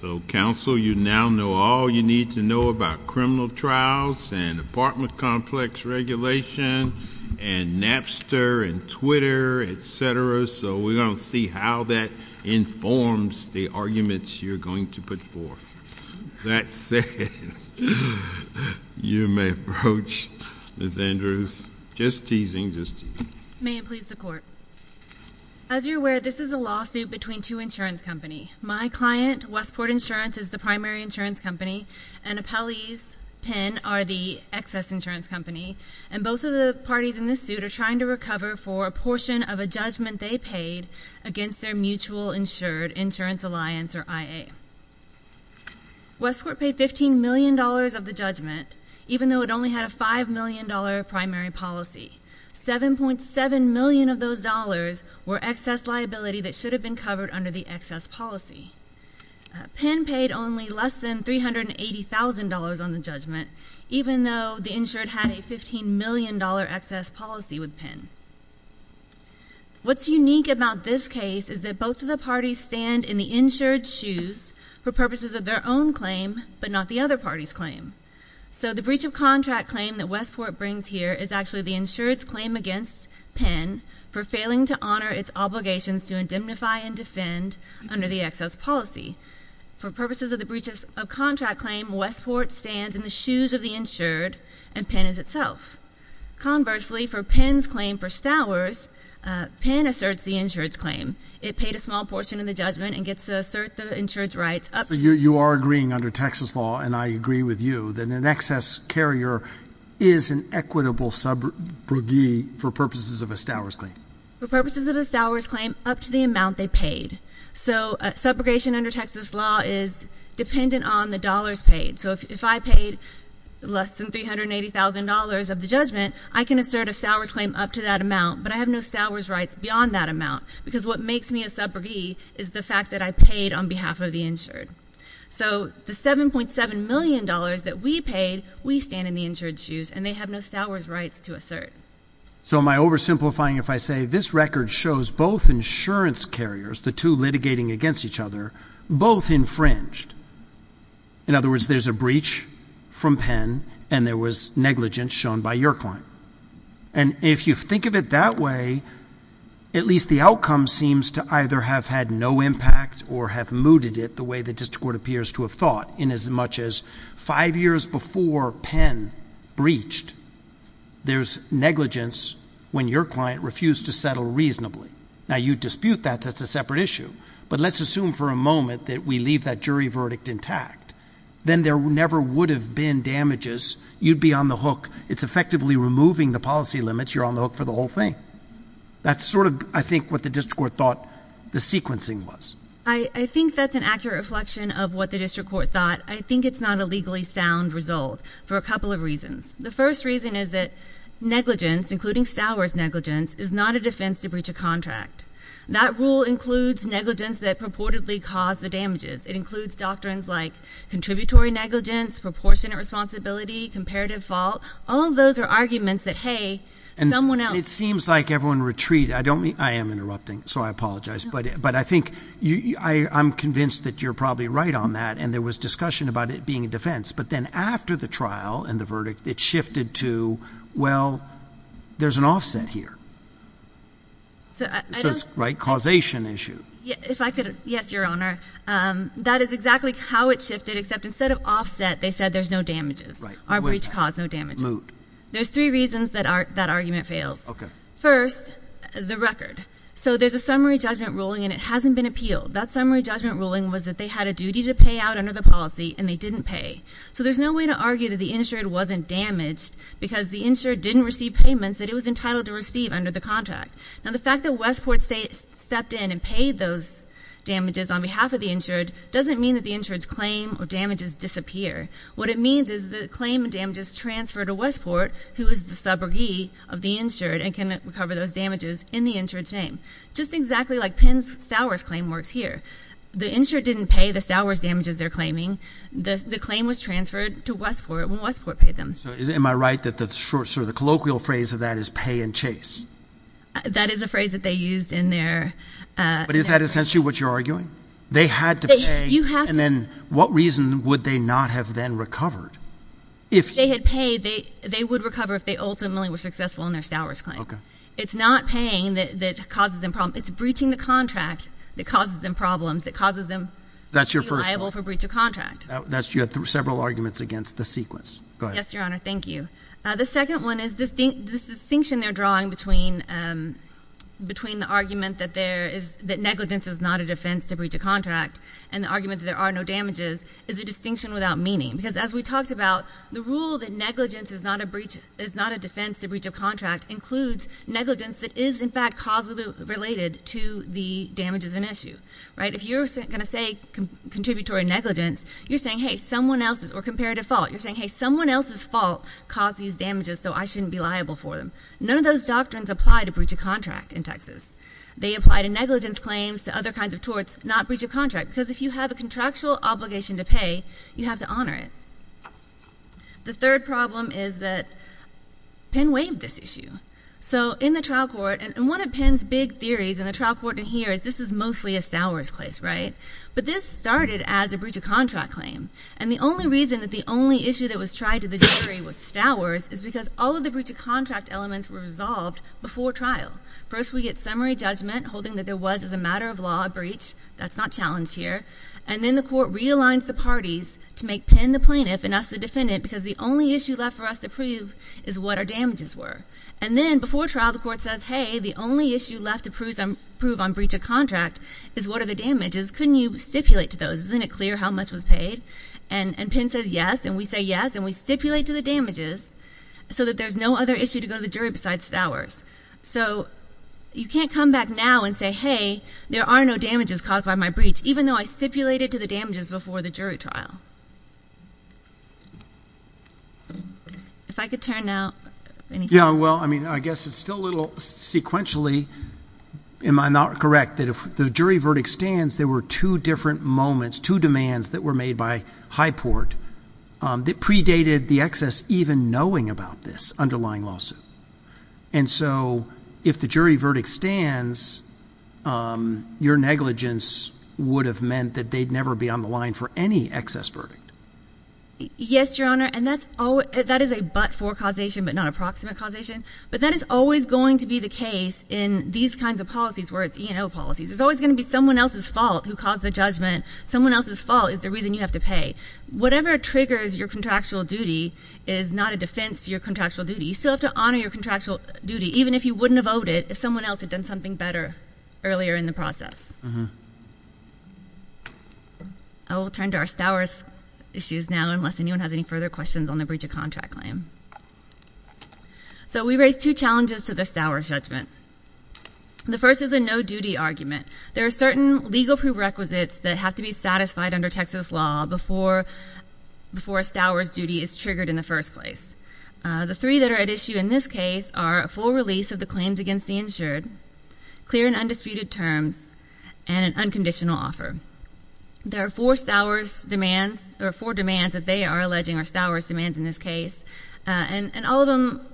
So Council, you now know all you need to know about criminal trials and apartment complex regulation and Napster and Twitter, etc. So we're going to see how that informs the arguments you're going to put forth. That said, you may approach Ms. Andrews. Just teasing, just teasing. May it please the Court. As you're aware, this is a lawsuit between two insurance companies. My client, Westport Insurance, is the primary insurance company, and appellees, Penn, are the excess insurance company, and both of the parties in this suit are trying to recover for a portion of a judgment they paid against their Mutual Insured Insurance Alliance, or MTA. Westport paid $15 million of the judgment, even though it only had a $5 million primary policy. $7.7 million of those dollars were excess liability that should have been covered under the excess policy. Penn paid only less than $380,000 on the judgment, even though the insured had a $15 million excess policy with Penn. What's unique about this case is that both of the parties stand in the insured's shoes for purposes of their own claim, but not the other party's claim. So the breach of contract claim that Westport brings here is actually the insured's claim against Penn for failing to honor its obligations to indemnify and defend under the excess policy. For purposes of the breach of contract claim, Westport stands in the shoes of the insured, and Penn is itself. Conversely, for Penn's claim for judgment and gets to assert the insured's rights. So you are agreeing under Texas law, and I agree with you, that an excess carrier is an equitable subrogee for purposes of a stowers claim? For purposes of a stowers claim, up to the amount they paid. So a subrogation under Texas law is dependent on the dollars paid. So if I paid less than $380,000 of the judgment, I can assert a stowers claim up to that amount, but I have no stowers rights beyond that amount, because what makes me a subrogee is the fact that I paid on behalf of the insured. So the $7.7 million that we paid, we stand in the insured's shoes, and they have no stowers rights to assert. So am I oversimplifying if I say this record shows both insurance carriers, the two litigating against each other, both infringed. In other words, there's a breach from Penn, and there was negligence shown by your claim. And if you think of it that way, at least the outcome seems to either have had no impact or have mooted it the way the district court appears to have thought. In as much as five years before Penn breached, there's negligence when your client refused to settle reasonably. Now you dispute that. That's a separate issue. But let's assume for a moment that we leave that jury verdict intact. Then there never would have been damages. You'd be on the hook. It's effectively removing the policy limits. You're on the hook for the whole thing. That's sort of, I think, what the district court thought the sequencing was. I think that's an accurate reflection of what the district court thought. I think it's not a legally sound result for a couple of reasons. The first reason is that negligence, including stowers negligence, is not a defense to breach a contract. That rule includes negligence that purportedly caused the damages. It includes doctrines like contributory negligence, proportionate responsibility, comparative fault. All of those are arguments that, hey, someone else And it seems like everyone retreated. I don't mean, I am interrupting, so I apologize. But I think, I'm convinced that you're probably right on that. And there was discussion about it being a defense. But then after the trial and the verdict, it shifted to, well, there's an offset here. So it's, right, causation issue. If I could, yes, your honor. That is exactly how it shifted, except instead of offset, they said there's no damages. Our breach caused no damages. There's three reasons that argument fails. First, the record. So there's a summary judgment ruling and it hasn't been appealed. That summary judgment ruling was that they had a duty to pay out under the policy and they didn't pay. So there's no way to argue that the insured wasn't damaged because the insured didn't receive payments that it was entitled to receive under the contract. Now the fact that Westport stepped in and paid those damages on behalf of the insured doesn't mean that the insured's claim or damages disappear. What it means is the claim of damages transferred to Westport, who is the subrogee of the insured, and can recover those damages in the insured's name. Just exactly like Penn's Sowers claim works here. The insured didn't pay the Sowers damages they're claiming. The claim was transferred to Westport when Westport paid them. So am I right that the short, sort of the colloquial phrase of that is pay and chase? That is a phrase that they used in their... But is that essentially what you're arguing? They had to pay... You have to... And then what reason would they not have then recovered? If they had paid, they would recover if they ultimately were successful in their Sowers claim. Okay. It's not paying that causes them problems. It's breaching the contract that causes them problems, that causes them to be liable for breach of contract. That's your first point. You had several arguments against the sequence. Go ahead. Yes, Your Honor. Thank you. The second one is the distinction they're drawing between the argument that negligence is not a defense to breach of contract and the argument that there are no damages is a distinction without meaning. Because as we talked about, the rule that negligence is not a defense to breach of contract includes negligence that is, in fact, causally related to the damages in issue, right? If you're going to say contributory negligence, you're saying, hey, someone else's, or comparative fault, you're saying, hey, someone else's fault caused these damages so I shouldn't be liable for them. None of those doctrines apply to breach of contract in Texas. They apply to negligence claims, to other kinds of torts, not breach of contract. Because if you have a contractual obligation to pay, you have to honor it. The third problem is that Penn waived this issue. So in the trial court, and one of Penn's big theories in the trial court in here is this is mostly a Sowers case, right? But this started as a breach of contract claim. And the only reason that the only issue that was tried to the jury was Sowers is because all of the breach of contract elements were resolved before trial. First we get summary judgment holding that there was, as a matter of law, a breach. That's not challenged here. And then the court realigns the parties to make Penn the plaintiff and us the defendant because the only issue left for us to prove is what our damages were. And then, before trial, the court says, hey, the only issue left to prove on breach of contract is what are the damages. Couldn't you stipulate to those? Isn't it clear how much was paid? And Penn says yes, and we say yes, and we stipulate to the damages. So that there's no other issue to go to the jury besides Sowers. So you can't come back now and say, hey, there are no damages caused by my breach, even though I stipulated to the damages before the jury trial. If I could turn now. Yeah, well, I mean, I guess it's still a little sequentially, am I not correct, that if the jury verdict stands, there were two different moments, two demands that were made by Highport that predated the excess even knowing about this underlying lawsuit. And so if the jury verdict stands, your negligence would have meant that they'd never be on the line for any excess verdict. Yes, Your Honor. And that is a but-for causation, but not a proximate causation. But that is always going to be the case in these kinds of policies, where it's E&O policies. There's always going to be someone else's fault who caused the judgment. Someone else's fault is the reason you have to pay. Whatever triggers your contractual duty is not a defense to your contractual duty. You still have to honor your contractual duty, even if you wouldn't have owed it, if someone else had done something better earlier in the process. Mm-hm. I will turn to our Stowers issues now, unless anyone has any further questions on the breach of contract claim. So we raise two challenges to the Stowers judgment. The first is a no-duty argument. There are certain legal prerequisites that have to be satisfied under Texas law before a Stowers duty is triggered in the first place. The three that are at issue in this case are a full release of the claims against the insured, clear and undisputed terms, and an unconditional offer. There are four Stowers demands, or four demands that they are alleging are Stowers demands in this case. And all of them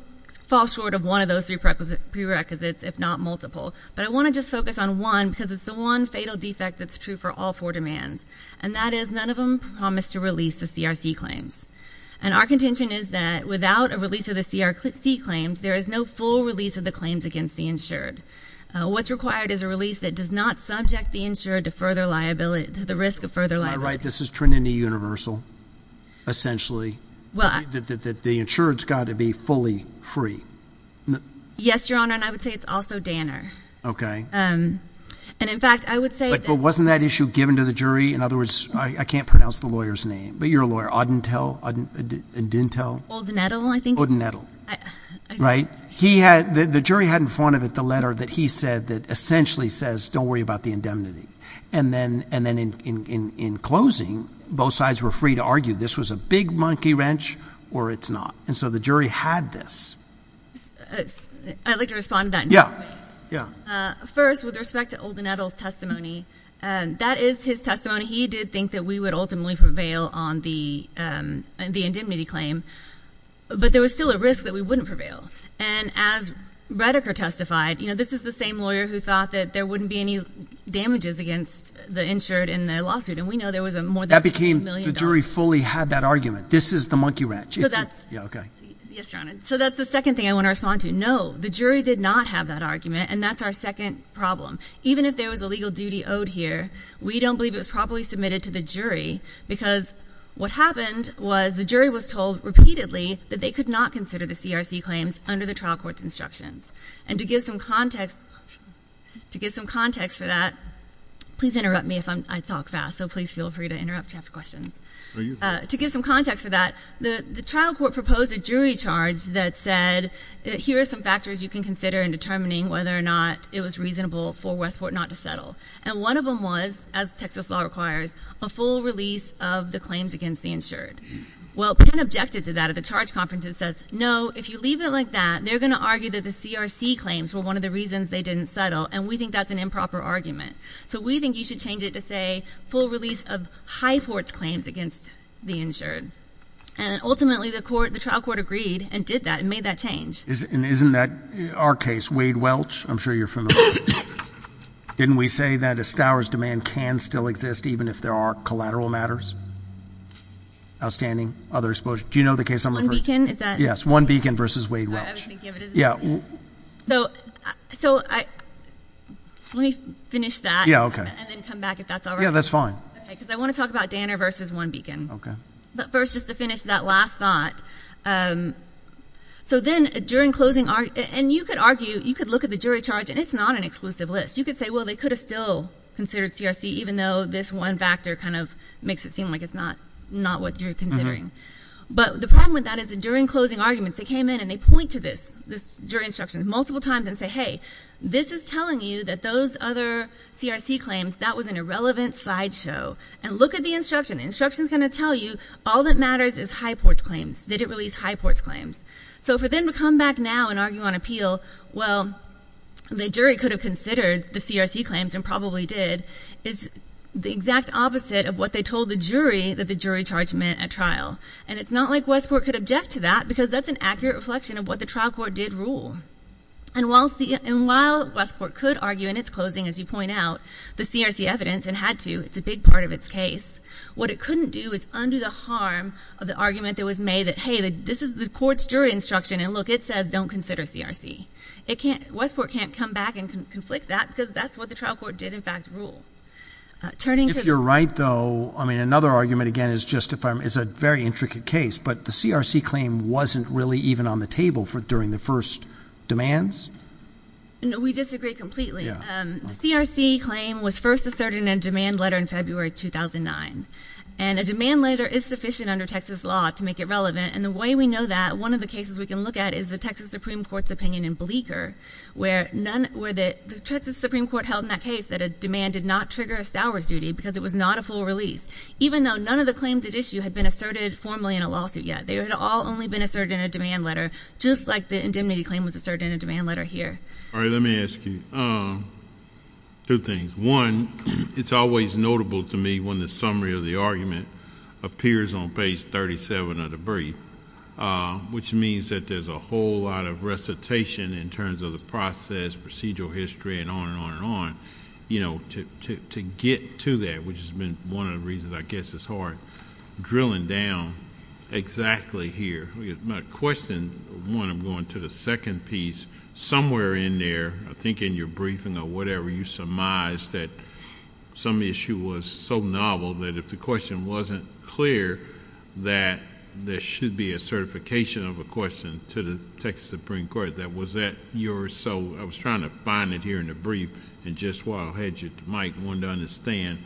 fall short of one of those three prerequisites, if not multiple. But I want to just focus on one, because it's the one fatal defect that's true for all four demands. And that is, none of them promise to release the CRC claims. And our contention is that without a release of the CRC claims, there is no full release of the claims against the insured. What's required is a release that does not subject the insured to further liability, to the risk of further liability. Am I right, this is Trinity Universal, essentially? Well, I- That the insured's gotta be fully free. Yes, your honor, and I would say it's also Danner. Okay. And in fact, I would say that- But wasn't that issue given to the jury? In other words, I can't pronounce the lawyer's name, but you're a lawyer. Odintel, Odintel? Old Nettle, I think. Old Nettle, right? He had, the jury had in front of it the letter that he said that essentially says, don't worry about the indemnity. And then in closing, both sides were free to argue, this was a big monkey wrench or it's not. And so the jury had this. I'd like to respond to that in two different ways. Yeah, yeah. First, with respect to Old Nettle's testimony, that is his testimony. He did think that we would ultimately prevail on the indemnity claim. But there was still a risk that we wouldn't prevail. And as Redeker testified, this is the same lawyer who thought that there wouldn't be any damages against the insured in the lawsuit. And we know there was a more than $50 million- The jury fully had that argument. This is the monkey wrench. Yeah, okay. Yes, Your Honor. So that's the second thing I want to respond to. No, the jury did not have that argument, and that's our second problem. Even if there was a legal duty owed here, we don't believe it was properly submitted to the jury. Because what happened was the jury was told repeatedly that they could not consider the CRC claims under the trial court's instructions. And to give some context, to give some context for that, please interrupt me if I talk fast, so please feel free to interrupt if you have questions. To give some context for that, the trial court proposed a jury charge that said, here are some factors you can consider in determining whether or not it was reasonable for Westport not to settle. And one of them was, as Texas law requires, a full release of the claims against the insured. Well, Penn objected to that at the charge conference and says, no, if you leave it like that, they're going to argue that the CRC claims were one of the reasons they didn't settle, and we think that's an improper argument. So we think you should change it to say, full release of High Court's claims against the insured, and ultimately the trial court agreed and did that and made that change. And isn't that our case, Wade Welch? I'm sure you're familiar with him. Didn't we say that a Stowers demand can still exist even if there are collateral matters, outstanding, other exposure, do you know the case I'm referring to? One Beacon, is that? Yes, One Beacon versus Wade Welch. I was thinking of it as a thing. Yeah. So, let me finish that. Yeah, okay. And then come back if that's all right. Yeah, that's fine. Okay, because I want to talk about Danner versus One Beacon. Okay. But first, just to finish that last thought, so then during closing, and you could argue, you could look at the jury charge, and it's not an exclusive list. You could say, well, they could have still considered CRC even though this one factor kind of makes it seem like it's not what you're considering. But the problem with that is that during closing arguments, they came in and they point to this jury instruction multiple times and say, hey, this is telling you that those other CRC claims, that was an irrelevant slide show. And look at the instruction. The instruction's going to tell you all that matters is Highport's claims. Did it release Highport's claims? So for them to come back now and argue on appeal, well, the jury could have considered the CRC claims and probably did. It's the exact opposite of what they told the jury that the jury charge meant at trial. And it's not like Westport could object to that because that's an accurate reflection of what the trial court did rule. And while Westport could argue in its closing, as you point out, the CRC evidence, and had to, it's a big part of its case. What it couldn't do is undo the harm of the argument that was made that, hey, this is the court's jury instruction, and look, it says don't consider CRC. Westport can't come back and conflict that because that's what the trial court did, in fact, rule. Turning to- If you're right, though, I mean, another argument, again, is just if I'm, is a very intricate case, but the CRC claim wasn't really even on the table for, during the first demands? No, we disagree completely. Yeah. The CRC claim was first asserted in a demand letter in February 2009. And a demand letter is sufficient under Texas law to make it relevant. And the way we know that, one of the cases we can look at is the Texas Supreme Court's opinion in Bleecker, where none, where the, the Texas Supreme Court held in that case that a demand did not trigger a source duty because it was not a full release. Even though none of the claims at issue had been asserted formally in a lawsuit yet. They had all only been asserted in a demand letter, just like the indemnity claim was asserted in a demand letter here. All right, let me ask you two things. One, it's always notable to me when the summary of the argument appears on page 37 of the brief, which means that there's a whole lot of recitation in terms of the process, procedural history, and on and on and on. You know, to get to that, which has been one of the reasons I guess it's hard, drilling down exactly here. My question, one, I'm going to the second piece. Somewhere in there, I think in your briefing or whatever, you surmised that some issue was so clear that there should be a certification of a question to the Texas Supreme Court. That was at your, so I was trying to find it here in the brief, and just while I had you, Mike, wanted to understand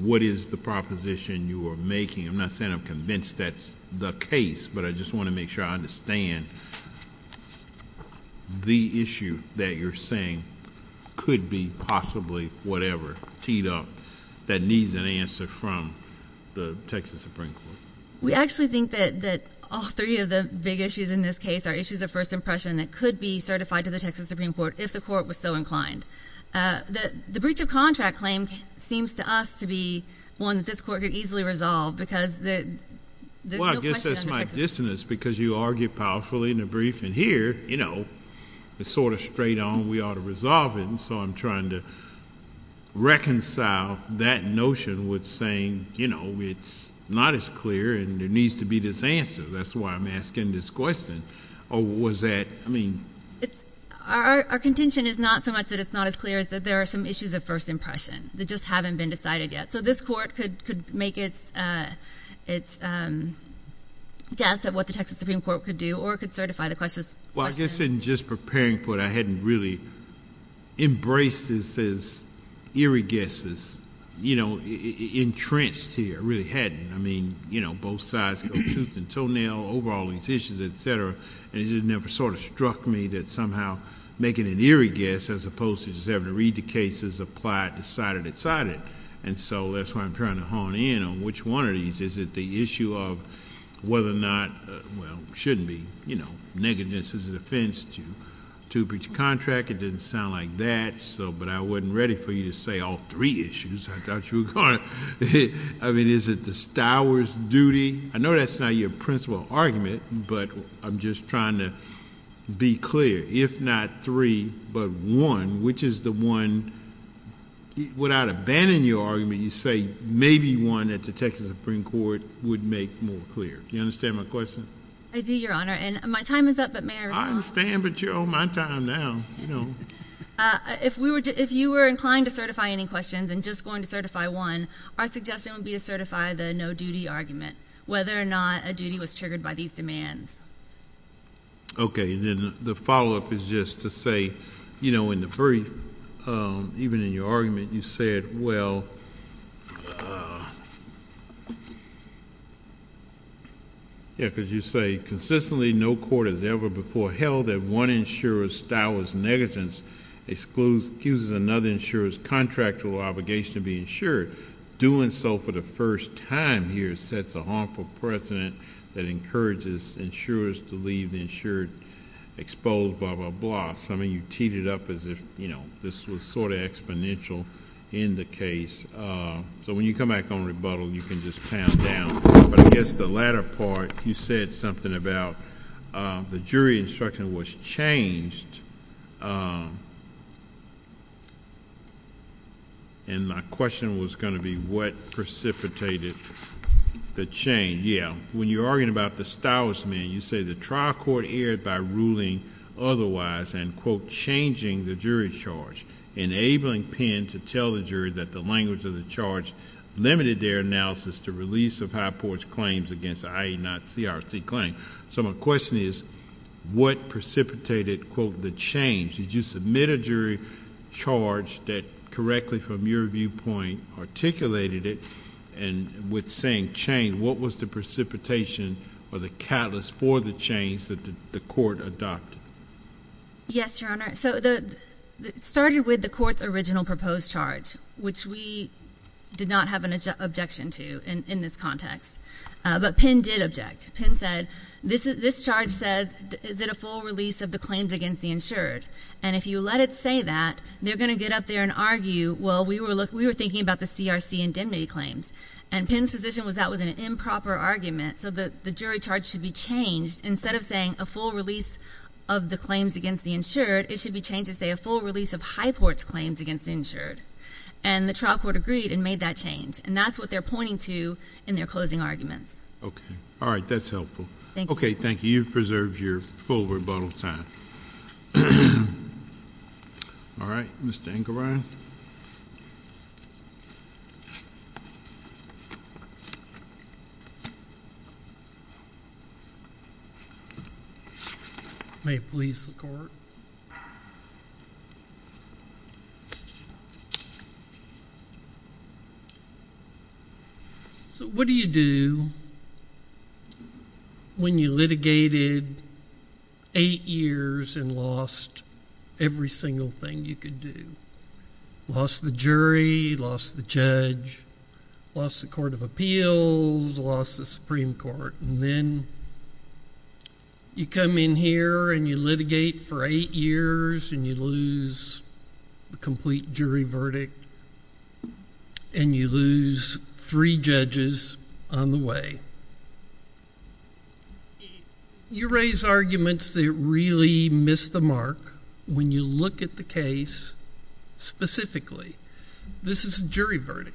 what is the proposition you are making. I'm not saying I'm convinced that's the case, but I just want to make sure I understand the issue that you're saying could be possibly whatever teed up that needs an answer from the Texas Supreme Court. We actually think that all three of the big issues in this case are issues of first impression that could be certified to the Texas Supreme Court if the court was so inclined. The breach of contract claim seems to us to be one that this court could easily resolve because there's no question under Texas. Well, I guess that's my dissonance because you argue powerfully in the brief, and here, you know, it's sort of straight on, we ought to resolve it, and so I'm trying to reconcile that notion with saying, you know, it's not as clear, and there needs to be this answer. That's why I'm asking this question. Or was that, I mean... Our contention is not so much that it's not as clear as that there are some issues of first impression that just haven't been decided yet. So this court could make its guess at what the Texas Supreme Court could do, or it could certify the question. Well, I guess in just preparing for it, I hadn't really embraced this as eerie guesses, you know, entrenched here, really hadn't. I mean, you know, both sides go tooth and toenail over all these issues, et cetera, and it never sort of struck me that somehow making an eerie guess, as opposed to just having to read the case as applied, decided, decided, and so that's why I'm trying to hone in on which one of these. Is it the issue of whether or not, well, shouldn't be, you know, negligence is an offense to breach a contract? It didn't sound like that, but I wasn't ready for you to say all three issues. I mean, is it the stower's duty? I know that's not your principal argument, but I'm just trying to be clear. If not three, but one, which is the one, without abandoning your argument, you say maybe one at the Texas Supreme Court would make more clear. Do you understand my question? I do, Your Honor, and my time is up, but may I respond? I understand, but you're on my time now, you know. If you were inclined to certify any questions and just going to certify one, our suggestion would be to certify the no-duty argument, whether or not a duty was triggered by these demands. Okay, and then the follow-up is just to say, you know, in the brief, even in your argument, you said, well, yeah, because you say consistently no court has ever before held that one insurer's stowers negligence gives another insurer's contractual obligation to be insured. Doing so for the first time here sets a harmful precedent that encourages insurers to leave the insured exposed, blah, blah, blah. So, I mean, you teed it up as if, you know, this was sort of exponential in the case. So, when you come back on rebuttal, you can just pound down. But I guess the latter part, you said something about the jury instruction was changed, and my question was going to be what precipitated the change. Yeah, when you're arguing about the stowers man, you say the trial court erred by ruling otherwise and, quote, changing the jury's charge, enabling Penn to tell the jury that the language of the charge limited their analysis to release of High Court's claims against the IE not CRT claim. So, my question is, what precipitated, quote, the change? Did you submit a jury charge that correctly from your viewpoint articulated it? And with saying change, what was the precipitation or the catalyst for the change that the court adopted? Yes, Your Honor. So, it started with the court's original proposed charge, which we did not have an objection to in this context. But Penn did object. Penn said, this charge says, is it a full release of the claims against the insured? And if you let it say that, they're going to get up there and argue, well, we were thinking about the CRC indemnity claims. And Penn's position was that was an improper argument. So, the jury charge should be changed. Instead of saying a full release of the claims against the insured, it should be changed to say a full release of High Court's claims against the insured. And the trial court agreed and made that change. And that's what they're pointing to in their closing arguments. Okay. All right. That's helpful. Okay. Thank you. You've preserved your full rebuttal time. All right. Mr. Engebrein. May it please the court. So, what do you do when you litigated eight years and lost every single thing you could do? Lost the jury. Lost the judge. Lost the Court of Appeals. Lost the Supreme Court. And then you come in here and you litigate for eight years and you lose the complete jury verdict and you lose three judges on the way. You raise arguments that really miss the mark when you look at the case specifically. This is a jury verdict.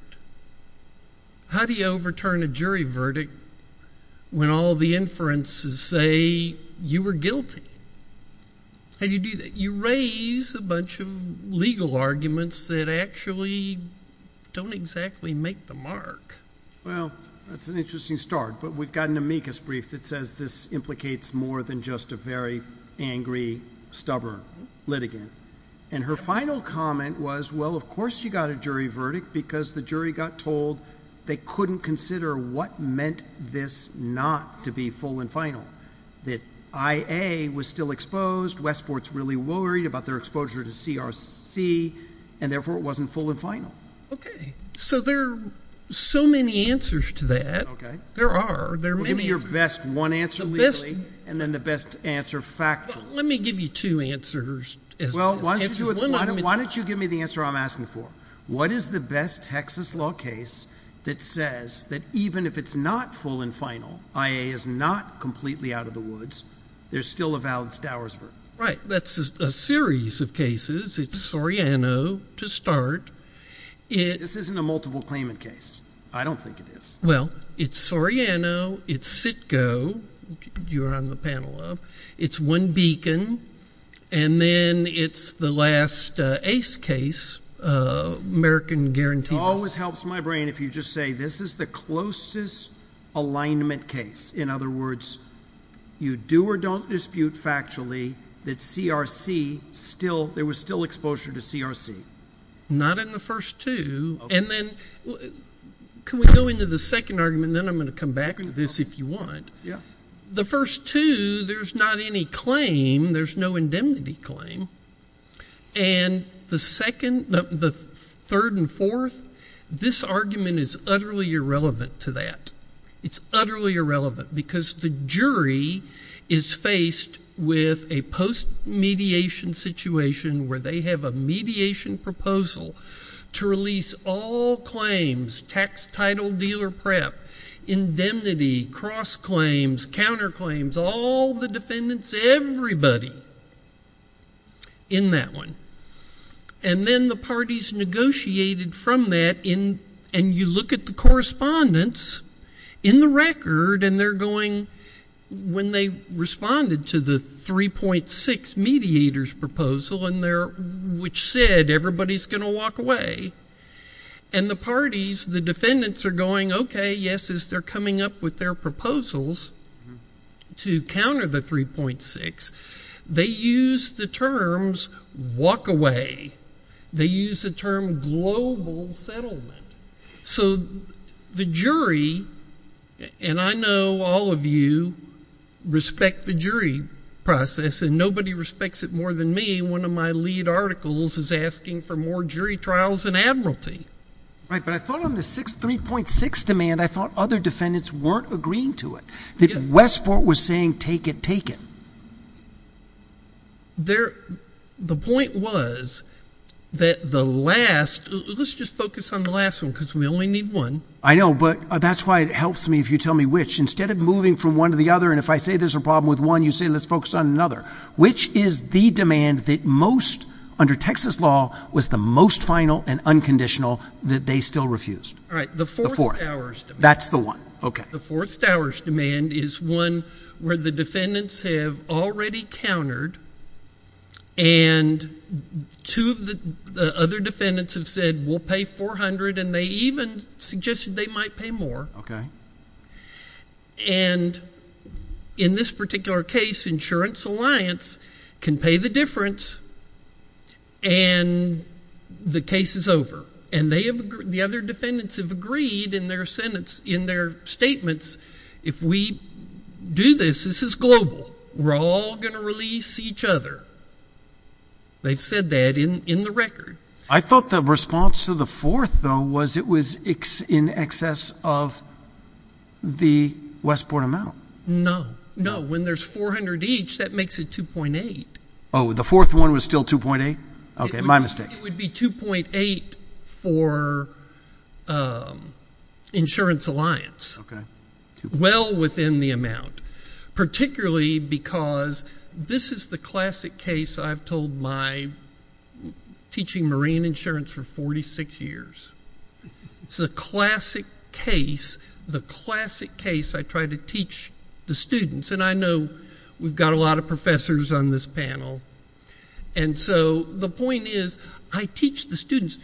How do you overturn a jury verdict when all the inferences say you were guilty? How do you do that? You raise a bunch of legal arguments that actually don't exactly make the mark. Well, that's an interesting start. But we've got an amicus brief that says this implicates more than just a very angry, stubborn litigant. And her final comment was, well, of course you got a jury verdict because the jury got told they couldn't consider what meant this not to be full and final. That IA was still exposed. Westport's really worried about their exposure to CRC and therefore it wasn't full and final. Okay. So, there are so many answers to that. Okay. There are. Well, give me your best one answer legally and then the best answer factually. Let me give you two answers. Well, why don't you give me the answer I'm asking for. What is the best Texas law case that says that even if it's not full and final, IA is not completely out of the woods, there's still a valid Stowers verdict? Right. That's a series of cases. It's Soriano to start. This isn't a multiple claimant case. I don't think it is. Well, it's Soriano. It's Sitko, you're on the panel of. It's one beacon and then it's the last ACE case, American Guaranteed. Always helps my brain if you just say this is the closest alignment case. In other words, you do or don't dispute factually that CRC still, there was still exposure to CRC. Not in the first two. And then, can we go into the second argument and then I'm going to come back to this if you want. Yeah. The first two, there's not any claim. There's no indemnity claim. And the second, the third and fourth, this argument is utterly irrelevant to that. It's utterly irrelevant because the jury is faced with a post mediation situation where they have a mediation proposal to release all claims, tax title, dealer prep, indemnity, cross claims, counter claims, all the defendants, everybody in that one. And then the parties negotiated from that and you look at the correspondence in the record and they're going, when they responded to the 3.6 mediators proposal which said everybody's going to walk away and the parties, the defendants are going, okay, yes, as they're coming up with their proposals to counter the 3.6, they used the terms walk away. They used the term global settlement. So, the jury, and I know all of you respect the jury process and nobody respects it more than me. One of my lead articles is asking for more jury trials and admiralty. Right, but I thought on the 3.6 demand, I thought other defendants weren't agreeing to it. That Westport was saying take it, take it. There, the point was that the last, let's just focus on the last one because we only need one. I know, but that's why it helps me if you tell me which. Instead of moving from one to the other and if I say there's a problem with one, you say let's focus on another. Which is the demand that most, under Texas law, was the most final and unconditional that they still refused? All right, the fourth hour's demand. That's the one, okay. The fourth hour's demand is one where the defendants have already countered and two of the other defendants have said we'll pay 400 and they even suggested they might pay more. Okay. And in this particular case, Insurance Alliance can pay the difference and the case is over and the other defendants have agreed in their statements if we do this, this is global. We're all going to release each other. They've said that in the record. I thought the response to the fourth, though, was it was in excess of the Westport amount. No, no. When there's 400 each, that makes it 2.8. Oh, the fourth one was still 2.8? Okay, my mistake. It would be 2.8 for Insurance Alliance. Well within the amount. Particularly because this is the classic case I've told my teaching marine insurance for 46 years. It's a classic case, the classic case I try to teach the students and I know we've got a lot of professors on this panel and so the point is I teach the students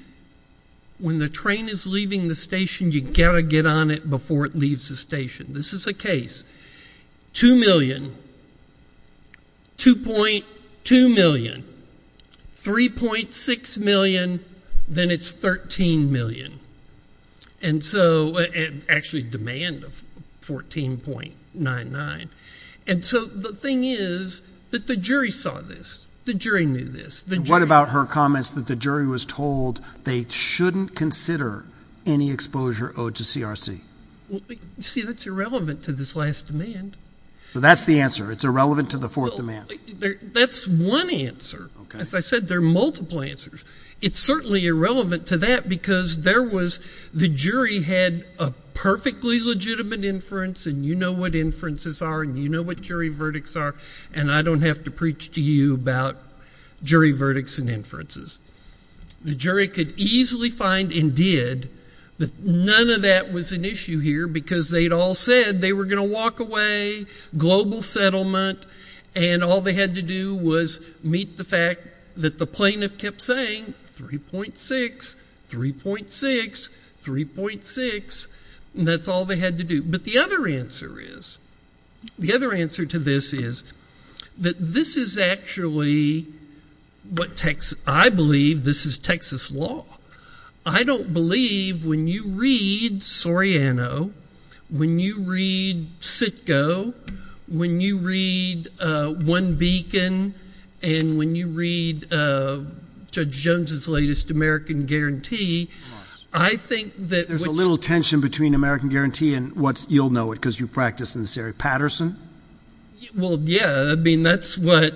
when the train is leaving the station, you got to get on it before it leaves the station. This is a case, 2 million, 2.2 million, 3.6 million, then it's 13 million. And so, actually demand of 14.99 and so the thing is that the jury saw this. The jury knew this. And what about her comments that the jury was told they shouldn't consider any exposure owed to CRC? See, that's irrelevant to this last demand. So that's the answer. It's irrelevant to the fourth demand. That's one answer. As I said, there are multiple answers. It's certainly irrelevant to that because the jury had a perfectly legitimate inference and you know what inferences are and you know what jury verdicts are and I don't have to preach to you about jury verdicts and inferences. The jury could easily find and did that none of that was an issue here because they'd all said they were going to walk away, global settlement and all they had to do was meet the fact that the plaintiff kept saying 3.6, 3.6, 3.6 and that's all they had to do. But the other answer is, the other answer to this is that this is actually what I believe this is Texas law. I don't believe when you read Soriano, when you read Sitko, when you read One Beacon and when you read Judge Jones' latest American Guarantee, I think that- There's a little tension between American Guarantee and what's, you'll know it because you practice in this area. Patterson? Well, yeah, I mean that's what-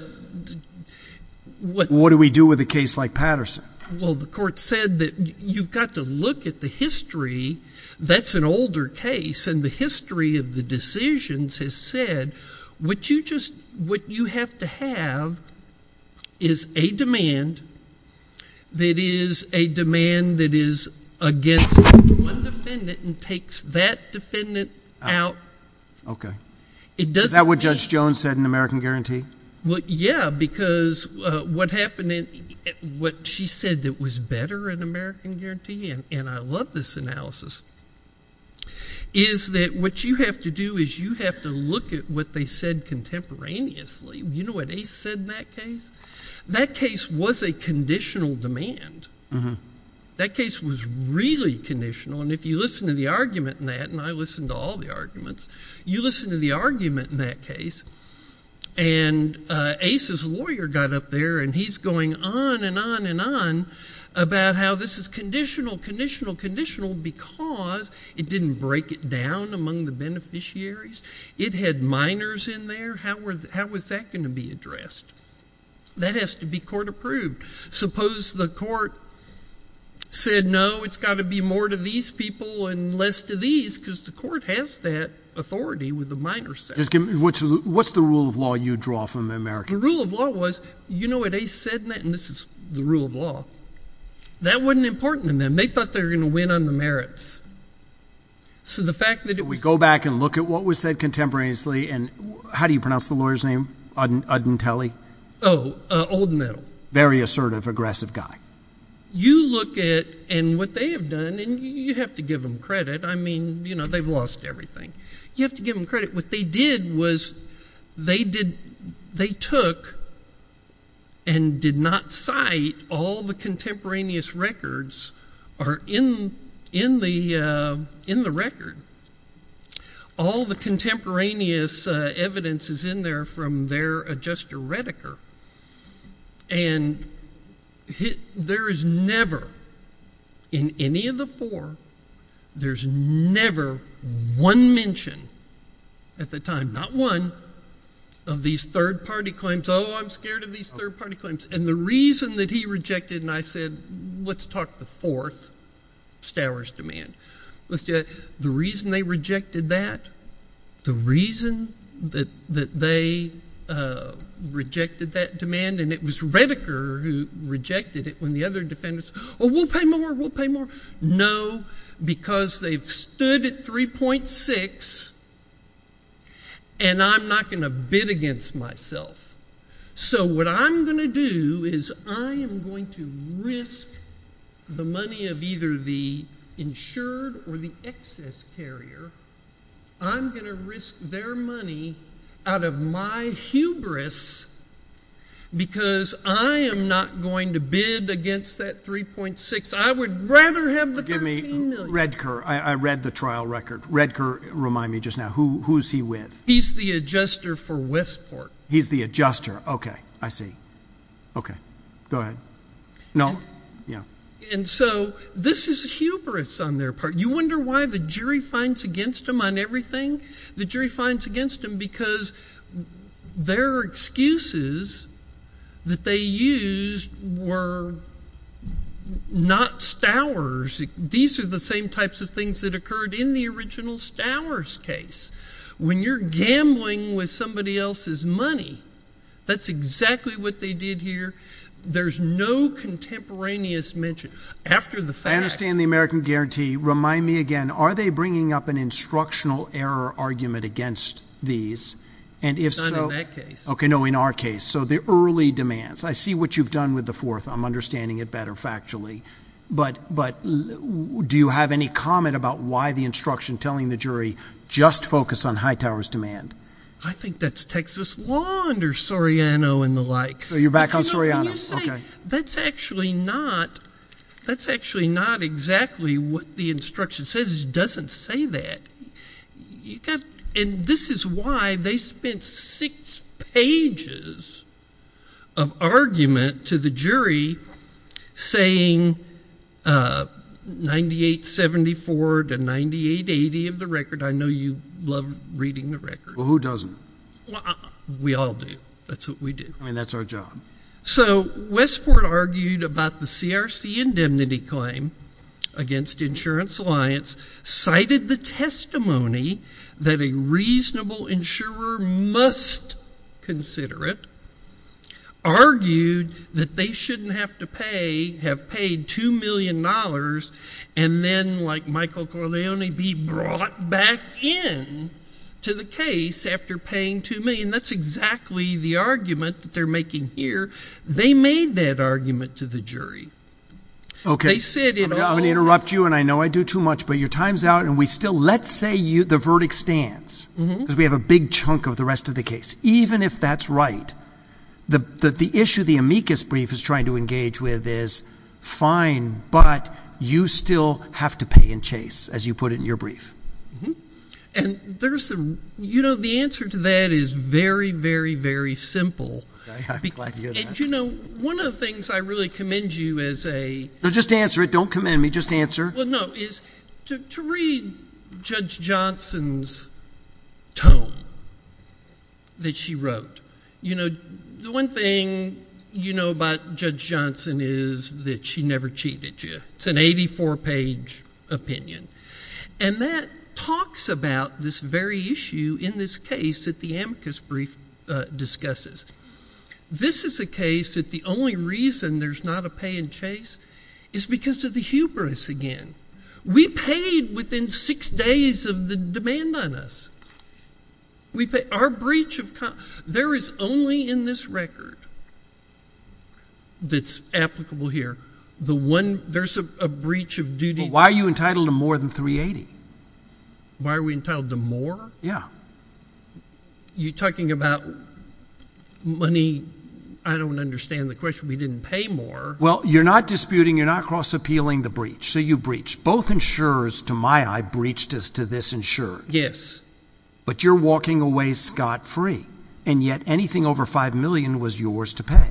What do we do with a case like Patterson? Well, the court said that you've got to look at the history, that's an older case and the history of the decisions has said what you just, what you have to have is a demand that is a demand that is against one defendant and takes that defendant out. Okay. It doesn't mean- Is that what Judge Jones said in American Guarantee? Well, yeah, because what happened in, what she said that was better in American Guarantee and I love this analysis, is that what you have to do is you have to look at what they said contemporaneously. You know what they said in that case? That case was a conditional demand. That case was really conditional and if you listen to the argument in that, and I listen to all the arguments, you listen to the argument in that case and Ace's lawyer got up there and he's going on and on and on about how this is conditional, conditional, conditional because it didn't break it down among the beneficiaries. It had minors in there. How was that going to be addressed? That has to be court approved. Suppose the court said, no, it's got to be more to these people and less to these because the court has that authority with the minor section. Just give me, what's the rule of law you draw from American Guarantee? The rule of law was, you know what Ace said in that? And this is the rule of law. That wasn't important to them. They thought they were going to win on the merits. So the fact that it was- We go back and look at what was said contemporaneously and how do you pronounce the lawyer's name? Udintelli? Oh, Old Medal. Very assertive, aggressive guy. You look at and what they have done and you have to give them credit. I mean, you know, they've lost everything. You have to give them credit. What they did was they did, they took and did not cite all the contemporaneous records are in, in the, in the record. All the contemporaneous evidence is in there from their adjuster, Redeker. And there is never, in any of the four, there's never one mention at the time, not one, of these third party claims. Oh, I'm scared of these third party claims. And the reason that he rejected and I said, let's talk the fourth, Stowers demand. Let's do that. The reason they rejected that, the reason that, that they rejected that demand and it was Redeker who rejected it when the other defendants, oh, we'll pay more, we'll pay more. No, because they've stood at 3.6 and I'm not going to bid against myself. So what I'm going to do is I am going to risk the money of either the insured or the excess carrier. I'm going to risk their money out of my hubris because I am not going to bid against that 3.6. I would rather have the 13 million. Redeker, I read the trial record. Redeker, remind me just now, who, who's he with? He's the adjuster for Westport. He's the adjuster. Okay. I see. Okay. Go ahead. No. Yeah. And so this is hubris on their part. You wonder why the jury finds against them on everything? The jury finds against them because their excuses that they used were not Stowers. These are the same types of things that occurred in the original Stowers case. When you're gambling with somebody else's money, that's exactly what they did here. There's no contemporaneous mention. After the fact— I understand the American guarantee. Remind me again, are they bringing up an instructional error argument against these? And if so— Not in that case. Okay. No, in our case. So the early demands. I see what you've done with the fourth. I'm understanding it better factually. But do you have any comment about why the instruction telling the jury just focus on Hightower's demand? I think that's Texas law under Soriano and the like. So you're back on Soriano. Okay. That's actually not exactly what the instruction says. It doesn't say that. And this is why they spent six pages of argument to the jury saying 9874 to 9880 of the record. I know you love reading the record. Well, who doesn't? We all do. That's what we do. I mean, that's our job. So Westport argued about the CRC indemnity claim against Insurance Alliance, cited the testimony that a reasonable insurer must consider it, argued that they shouldn't have to pay, have paid $2 million and then like Michael Corleone be brought back in to the case after paying $2 million. That's exactly the argument that they're making here. They made that argument to the jury. Okay. They said it all. I'm going to interrupt you and I know I do too much, but your time's out and we still, let's say the verdict stands because we have a big chunk of the rest of the case. Even if that's right, the issue the amicus brief is trying to engage with is fine, but you still have to pay in chase as you put it in your brief. And there's some, you know, the answer to that is very, very, very simple. You know, one of the things I really commend you as a... No, just answer it. Don't commend me. Just answer. ...is to read Judge Johnson's tome that she wrote. You know, the one thing you know about Judge Johnson is that she never cheated you. It's an 84 page opinion. And that talks about this very issue in this case that the amicus brief discusses. This is a case that the only reason there's not a pay in chase is because of the hubris again. We paid within six days of the demand on us. There is only in this record that's applicable here. There's a breach of duty. Why are you entitled to more than 380? Why are we entitled to more? Yeah. You're talking about money. I don't understand the question. We didn't pay more. Well, you're not disputing. You're not cross appealing the breach. So you breached. Both insurers, to my eye, breached as to this insurer. Yes. But you're walking away scot-free. And yet anything over 5 million was yours to pay.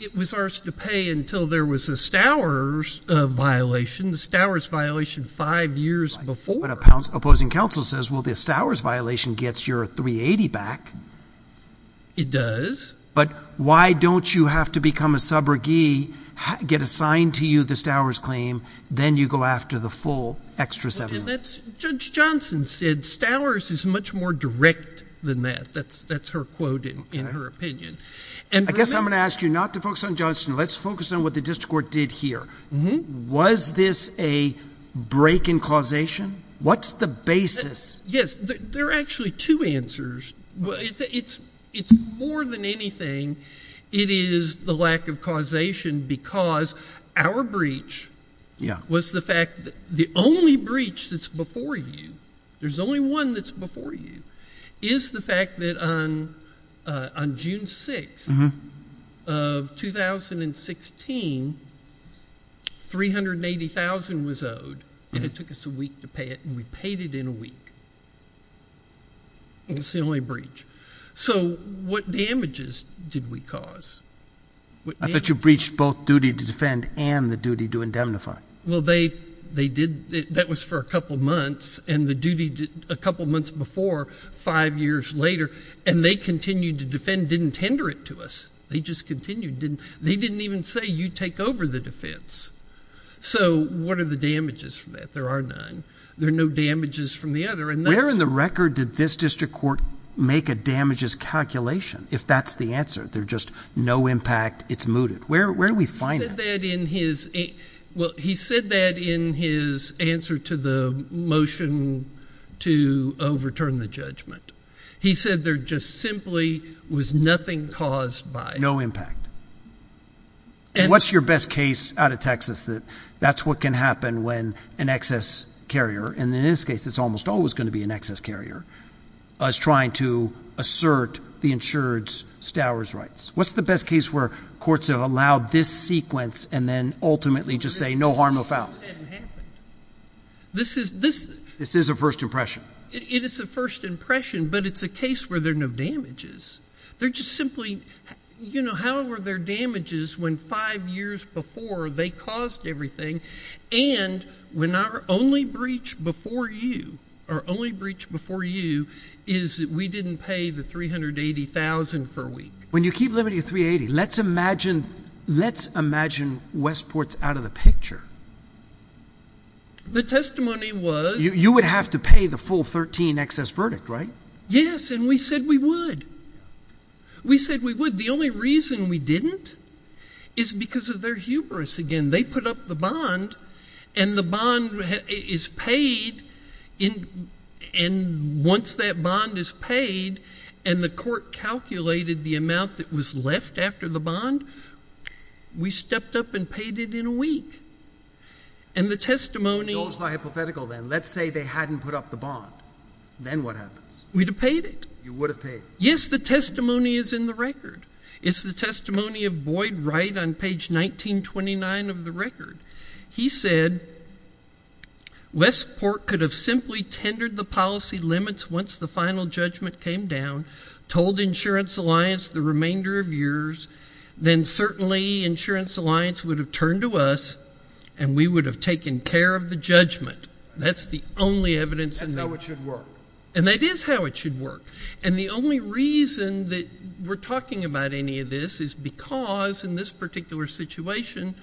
It was ours to pay until there was a Stowers violation. The Stowers violation five years before. But opposing counsel says, well, the Stowers violation gets your 380 back. It does. But why don't you have to become a subrogee, get assigned to you the Stowers claim, then you go after the full extra 7 million? And that's, Judge Johnson said, Stowers is much more direct than that. That's her quote in her opinion. I guess I'm going to ask you not to focus on Johnson. Let's focus on what the district court did here. Was this a break in causation? What's the basis? Yes. There are actually two answers. Well, it's more than anything, it is the lack of causation because our breach was the fact that the only breach that's before you, there's only one that's before you, is the fact that on June 6th of 2016, 380,000 was owed. And it took us a week to pay it. And we paid it in a week. And it's the only breach. So what damages did we cause? I thought you breached both duty to defend and the duty to indemnify. Well, they did. That was for a couple months. And the duty a couple months before, five years later, and they continued to defend, didn't tender it to us. They just continued. They didn't even say you take over the defense. So what are the damages for that? There are none. There are no damages from the other. Where in the record did this district court make a damages calculation if that's the answer? They're just no impact, it's mooted. Where do we find that? Well, he said that in his answer to the motion to overturn the judgment. He said there just simply was nothing caused by it. No impact. And what's your best case out of Texas that that's what can happen when an excess carrier, and in this case, it's almost always going to be an excess carrier, is trying to assert the insured stowers rights? What's the best case where courts have allowed this sequence and then ultimately just say no harm, no foul? This is a first impression. It is a first impression, but it's a case where there are no damages. They're just simply, you know, how were their damages when five years before they caused everything and when our only breach before you, our only breach before you, is we didn't pay the $380,000 for a week. When you keep limiting to $380,000, let's imagine Westport's out of the picture. The testimony was... You would have to pay the full $13,000 excess verdict, right? Yes, and we said we would. We said we would. The only reason we didn't is because of their hubris. Again, they put up the bond and the bond is paid, and once that bond is paid and the court calculated the amount that was left after the bond, we stepped up and paid it in a week. And the testimony... Those are hypothetical then. Let's say they hadn't put up the bond. Then what happens? We'd have paid it. You would have paid it. Yes, the testimony is in the record. It's the testimony of Boyd Wright on page 1929 of the record. He said, Westport could have simply tendered the policy limits once the final judgment came down, told Insurance Alliance the remainder of years, then certainly Insurance Alliance would have turned to us and we would have taken care of the judgment. That's the only evidence. That's how it should work. And that is how it should work. And the only reason that we're talking about any of this is because in this particular situation,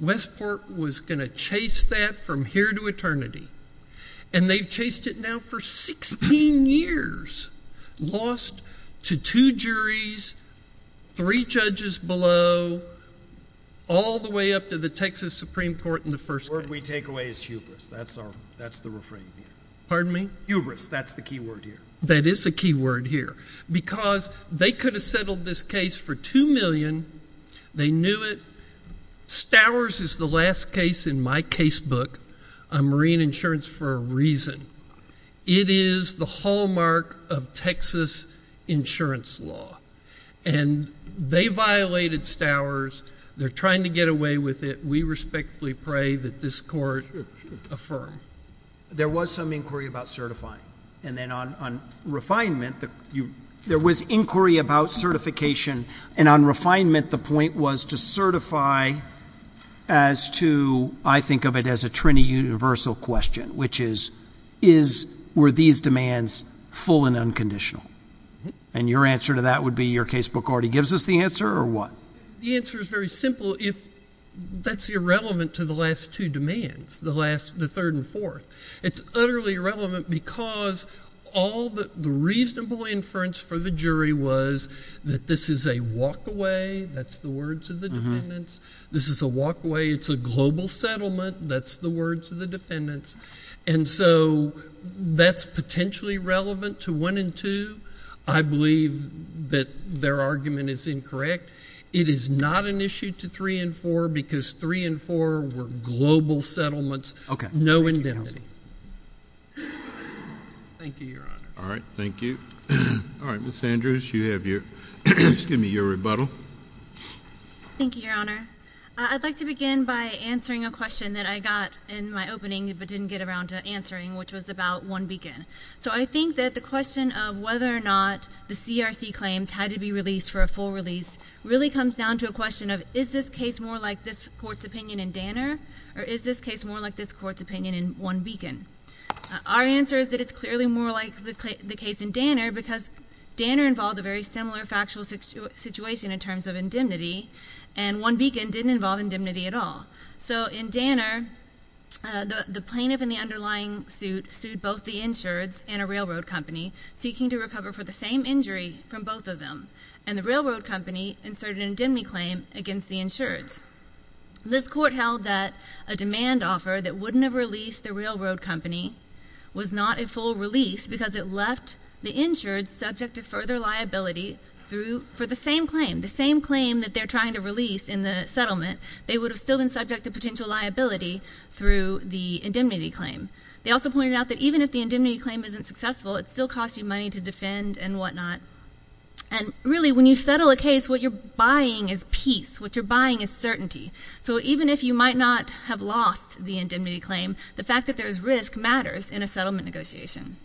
Westport was going to chase that from here to eternity. And they've chased it now for 16 years, lost to two juries, three judges below, all the way up to the Texas Supreme Court in the first... The word we take away is hubris. That's the refrain here. Pardon me? Hubris. That's the key word here. That is a key word here. Because they could have settled this case for $2 million. They knew it. Stowers is the last case in my casebook on marine insurance for a reason. It is the hallmark of Texas insurance law. And they violated Stowers. They're trying to get away with it. We respectfully pray that this court affirm. There was some inquiry about certifying. And then on refinement, there was inquiry about certification. And on refinement, the point was to certify as to, I think of it as a trini-universal question, which is, were these demands full and unconditional? And your answer to that would be, your casebook already gives us the answer or what? The answer is very simple. If that's irrelevant to the last two demands, the last, the third and fourth, it's utterly irrelevant because all the reasonable inference for the jury was that this is a walk away. That's the words of the defendants. This is a walk away. It's a global settlement. That's the words of the defendants. And so that's potentially relevant to one and two. I believe that their argument is incorrect. It is not an issue to three and four, because three and four were global settlements. No indemnity. Thank you, Your Honor. All right. Thank you. All right. Ms. Andrews, you have your, excuse me, your rebuttal. Thank you, Your Honor. I'd like to begin by answering a question that I got in my opening, but didn't get around to answering, which was about one beacon. So I think that the question of whether or not the CRC claims had to be released for a full release really comes down to a question of, is this case more like this court's opinion in Danner? Or is this case more like this court's opinion in one beacon? Our answer is that it's clearly more like the case in Danner, because Danner involved a very similar factual situation in terms of indemnity, and one beacon didn't involve indemnity at all. So in Danner, the plaintiff in the underlying suit sued both the insureds and a railroad company, seeking to recover for the same injury from both of them. And the railroad company inserted an indemnity claim against the insureds. This court held that a demand offer that wouldn't have released the railroad company was not a full release because it left the insureds subject to further liability for the same claim. The same claim that they're trying to release in the settlement, they would have still been subject to potential liability through the indemnity claim. They also pointed out that even if the indemnity claim isn't successful, it still costs you money to defend and whatnot. And really, when you settle a case, what you're buying is peace. What you're buying is certainty. So even if you might not have lost the indemnity claim, the fact that there's risk matters in a settlement negotiation.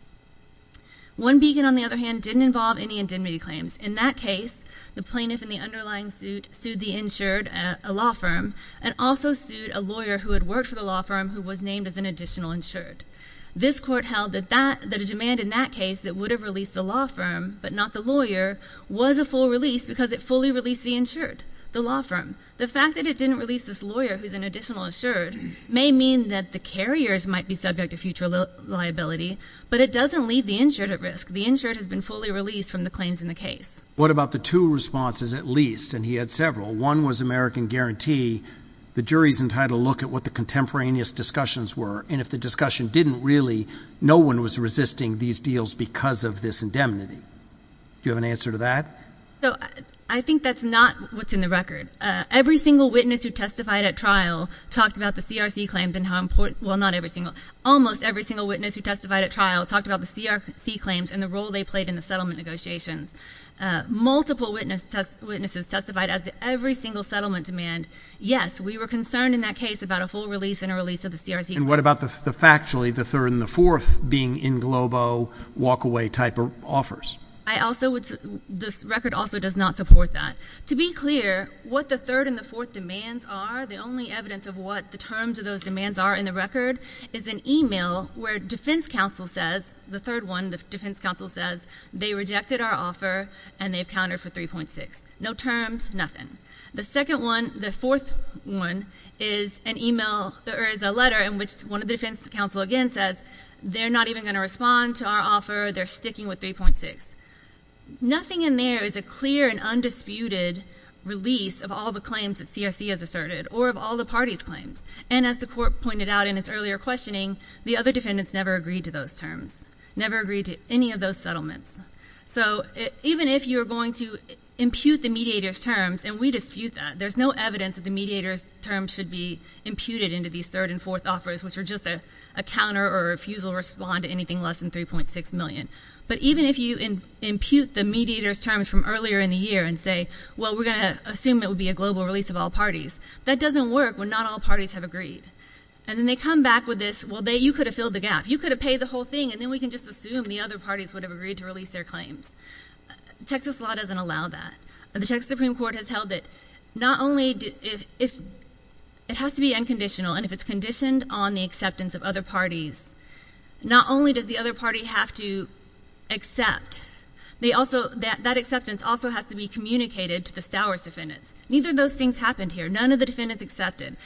One beacon, on the other hand, didn't involve any indemnity claims. In that case, the plaintiff in the underlying suit sued the insured, a law firm, and also sued a lawyer who had worked for the law firm who was named as an additional insured. This court held that a demand in that case that would have released the law firm but not the lawyer was a full release because it fully released the insured. The law firm. The fact that it didn't release this lawyer who's an additional insured may mean that the carriers might be subject to future liability, but it doesn't leave the insured at risk. The insured has been fully released from the claims in the case. What about the two responses at least? And he had several. One was American Guarantee. The jury's entitled to look at what the contemporaneous discussions were. And if the discussion didn't really, no one was resisting these deals because of this indemnity. Do you have an answer to that? So I think that's not what's in the record. Every single witness who testified at trial talked about the CRC claim and how important, well, not every single, almost every single witness who testified at trial talked about the CRC claims and the role they played in the settlement negotiations. Multiple witnesses testified as to every single settlement demand. Yes, we were concerned in that case about a full release and a release of the CRC. And what about the factually the third and the fourth being in Globo walkaway type of offers? I also would, this record also does not support that. To be clear, what the third and the fourth demands are, the only evidence of what the terms of those demands are in the record is an email where defense counsel says, the third one, the defense counsel says, they rejected our offer and they've counted for 3.6. No terms, nothing. The second one, the fourth one is an email, there is a letter in which one of the defense counsel again says, they're not even going to respond to our offer. They're sticking with 3.6. Nothing in there is a clear and undisputed release of all the claims that CRC has asserted or of all the party's claims. And as the court pointed out in its earlier questioning, the other defendants never agreed to those terms, never agreed to any of those settlements. So even if you're going to impute the mediator's terms, and we dispute that, there's no evidence that the mediator's term should be imputed into these third and fourth offers, which are just a counter or a refusal to respond to anything less than 3.6 million. But even if you impute the mediator's terms from earlier in the year and say, well, we're going to assume it would be a global release of all parties, that doesn't work when not all parties have agreed. And then they come back with this, well, you could have filled the gap, you could have paid the whole thing, and then we can just assume the other parties would have agreed to release their claims. Texas law doesn't allow that. The Texas Supreme Court has held that not only if it has to be unconditional, and if it's conditioned on the acceptance of other parties, not only does the other party have to accept, that acceptance also has to be communicated to the Stowers defendants. Neither of those things happened here. None of the defendants accepted.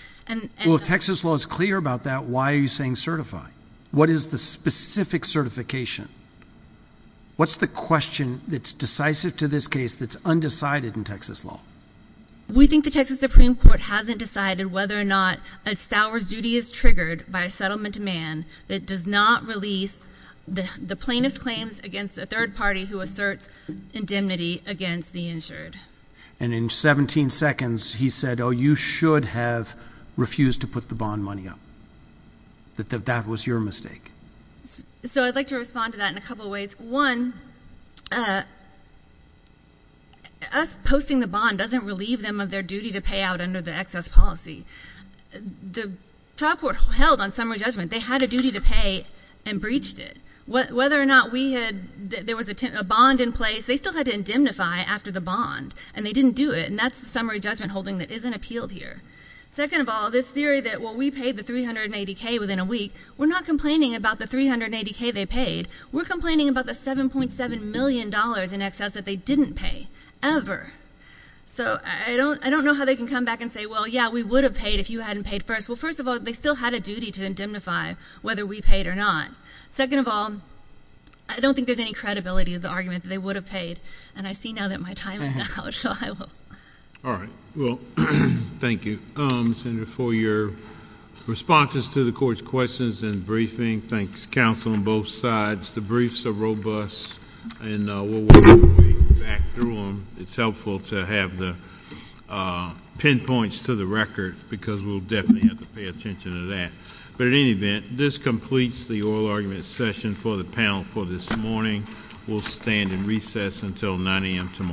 Well, if Texas law is clear about that, why are you saying certify? What is the specific certification? What's the question that's decisive to this case that's undecided in Texas law? We think the Texas Supreme Court hasn't decided whether or not a Stowers duty is triggered by a settlement to man that does not release the plaintiff's claims against a third party who asserts indemnity against the injured. And in 17 seconds, he said, oh, you should have refused to put the bond money up, that that was your mistake. So I'd like to respond to that in a couple of ways. One, us posting the bond doesn't relieve them of their duty to pay out under the excess policy. The trial court held on summary judgment, they had a duty to pay and breached it. Whether or not we had, there was a bond in place, they still had to indemnify after the bond and they didn't do it. And that's the summary judgment holding that isn't appealed here. Second of all, this theory that, well, we paid the 380K within a week, we're not complaining about the 380K they paid. We're complaining about the $7.7 million in excess that they didn't pay, ever. So I don't know how they can come back and say, well, yeah, we would have paid if you hadn't paid first. Well, first of all, they still had a duty to indemnify whether we paid or not. Second of all, I don't think there's any credibility of the argument that they would have paid. And I see now that my time is up, so I will. All right. Well, thank you, Senator, for your responses to the court's questions and briefing. Thanks, counsel on both sides. The briefs are robust and we'll work our way back through them. It's helpful to have the pinpoints to the record because we'll definitely have to pay attention to that. But in any event, this completes the oral argument session for the panel for this morning. We'll stand in recess until 9 a.m. tomorrow.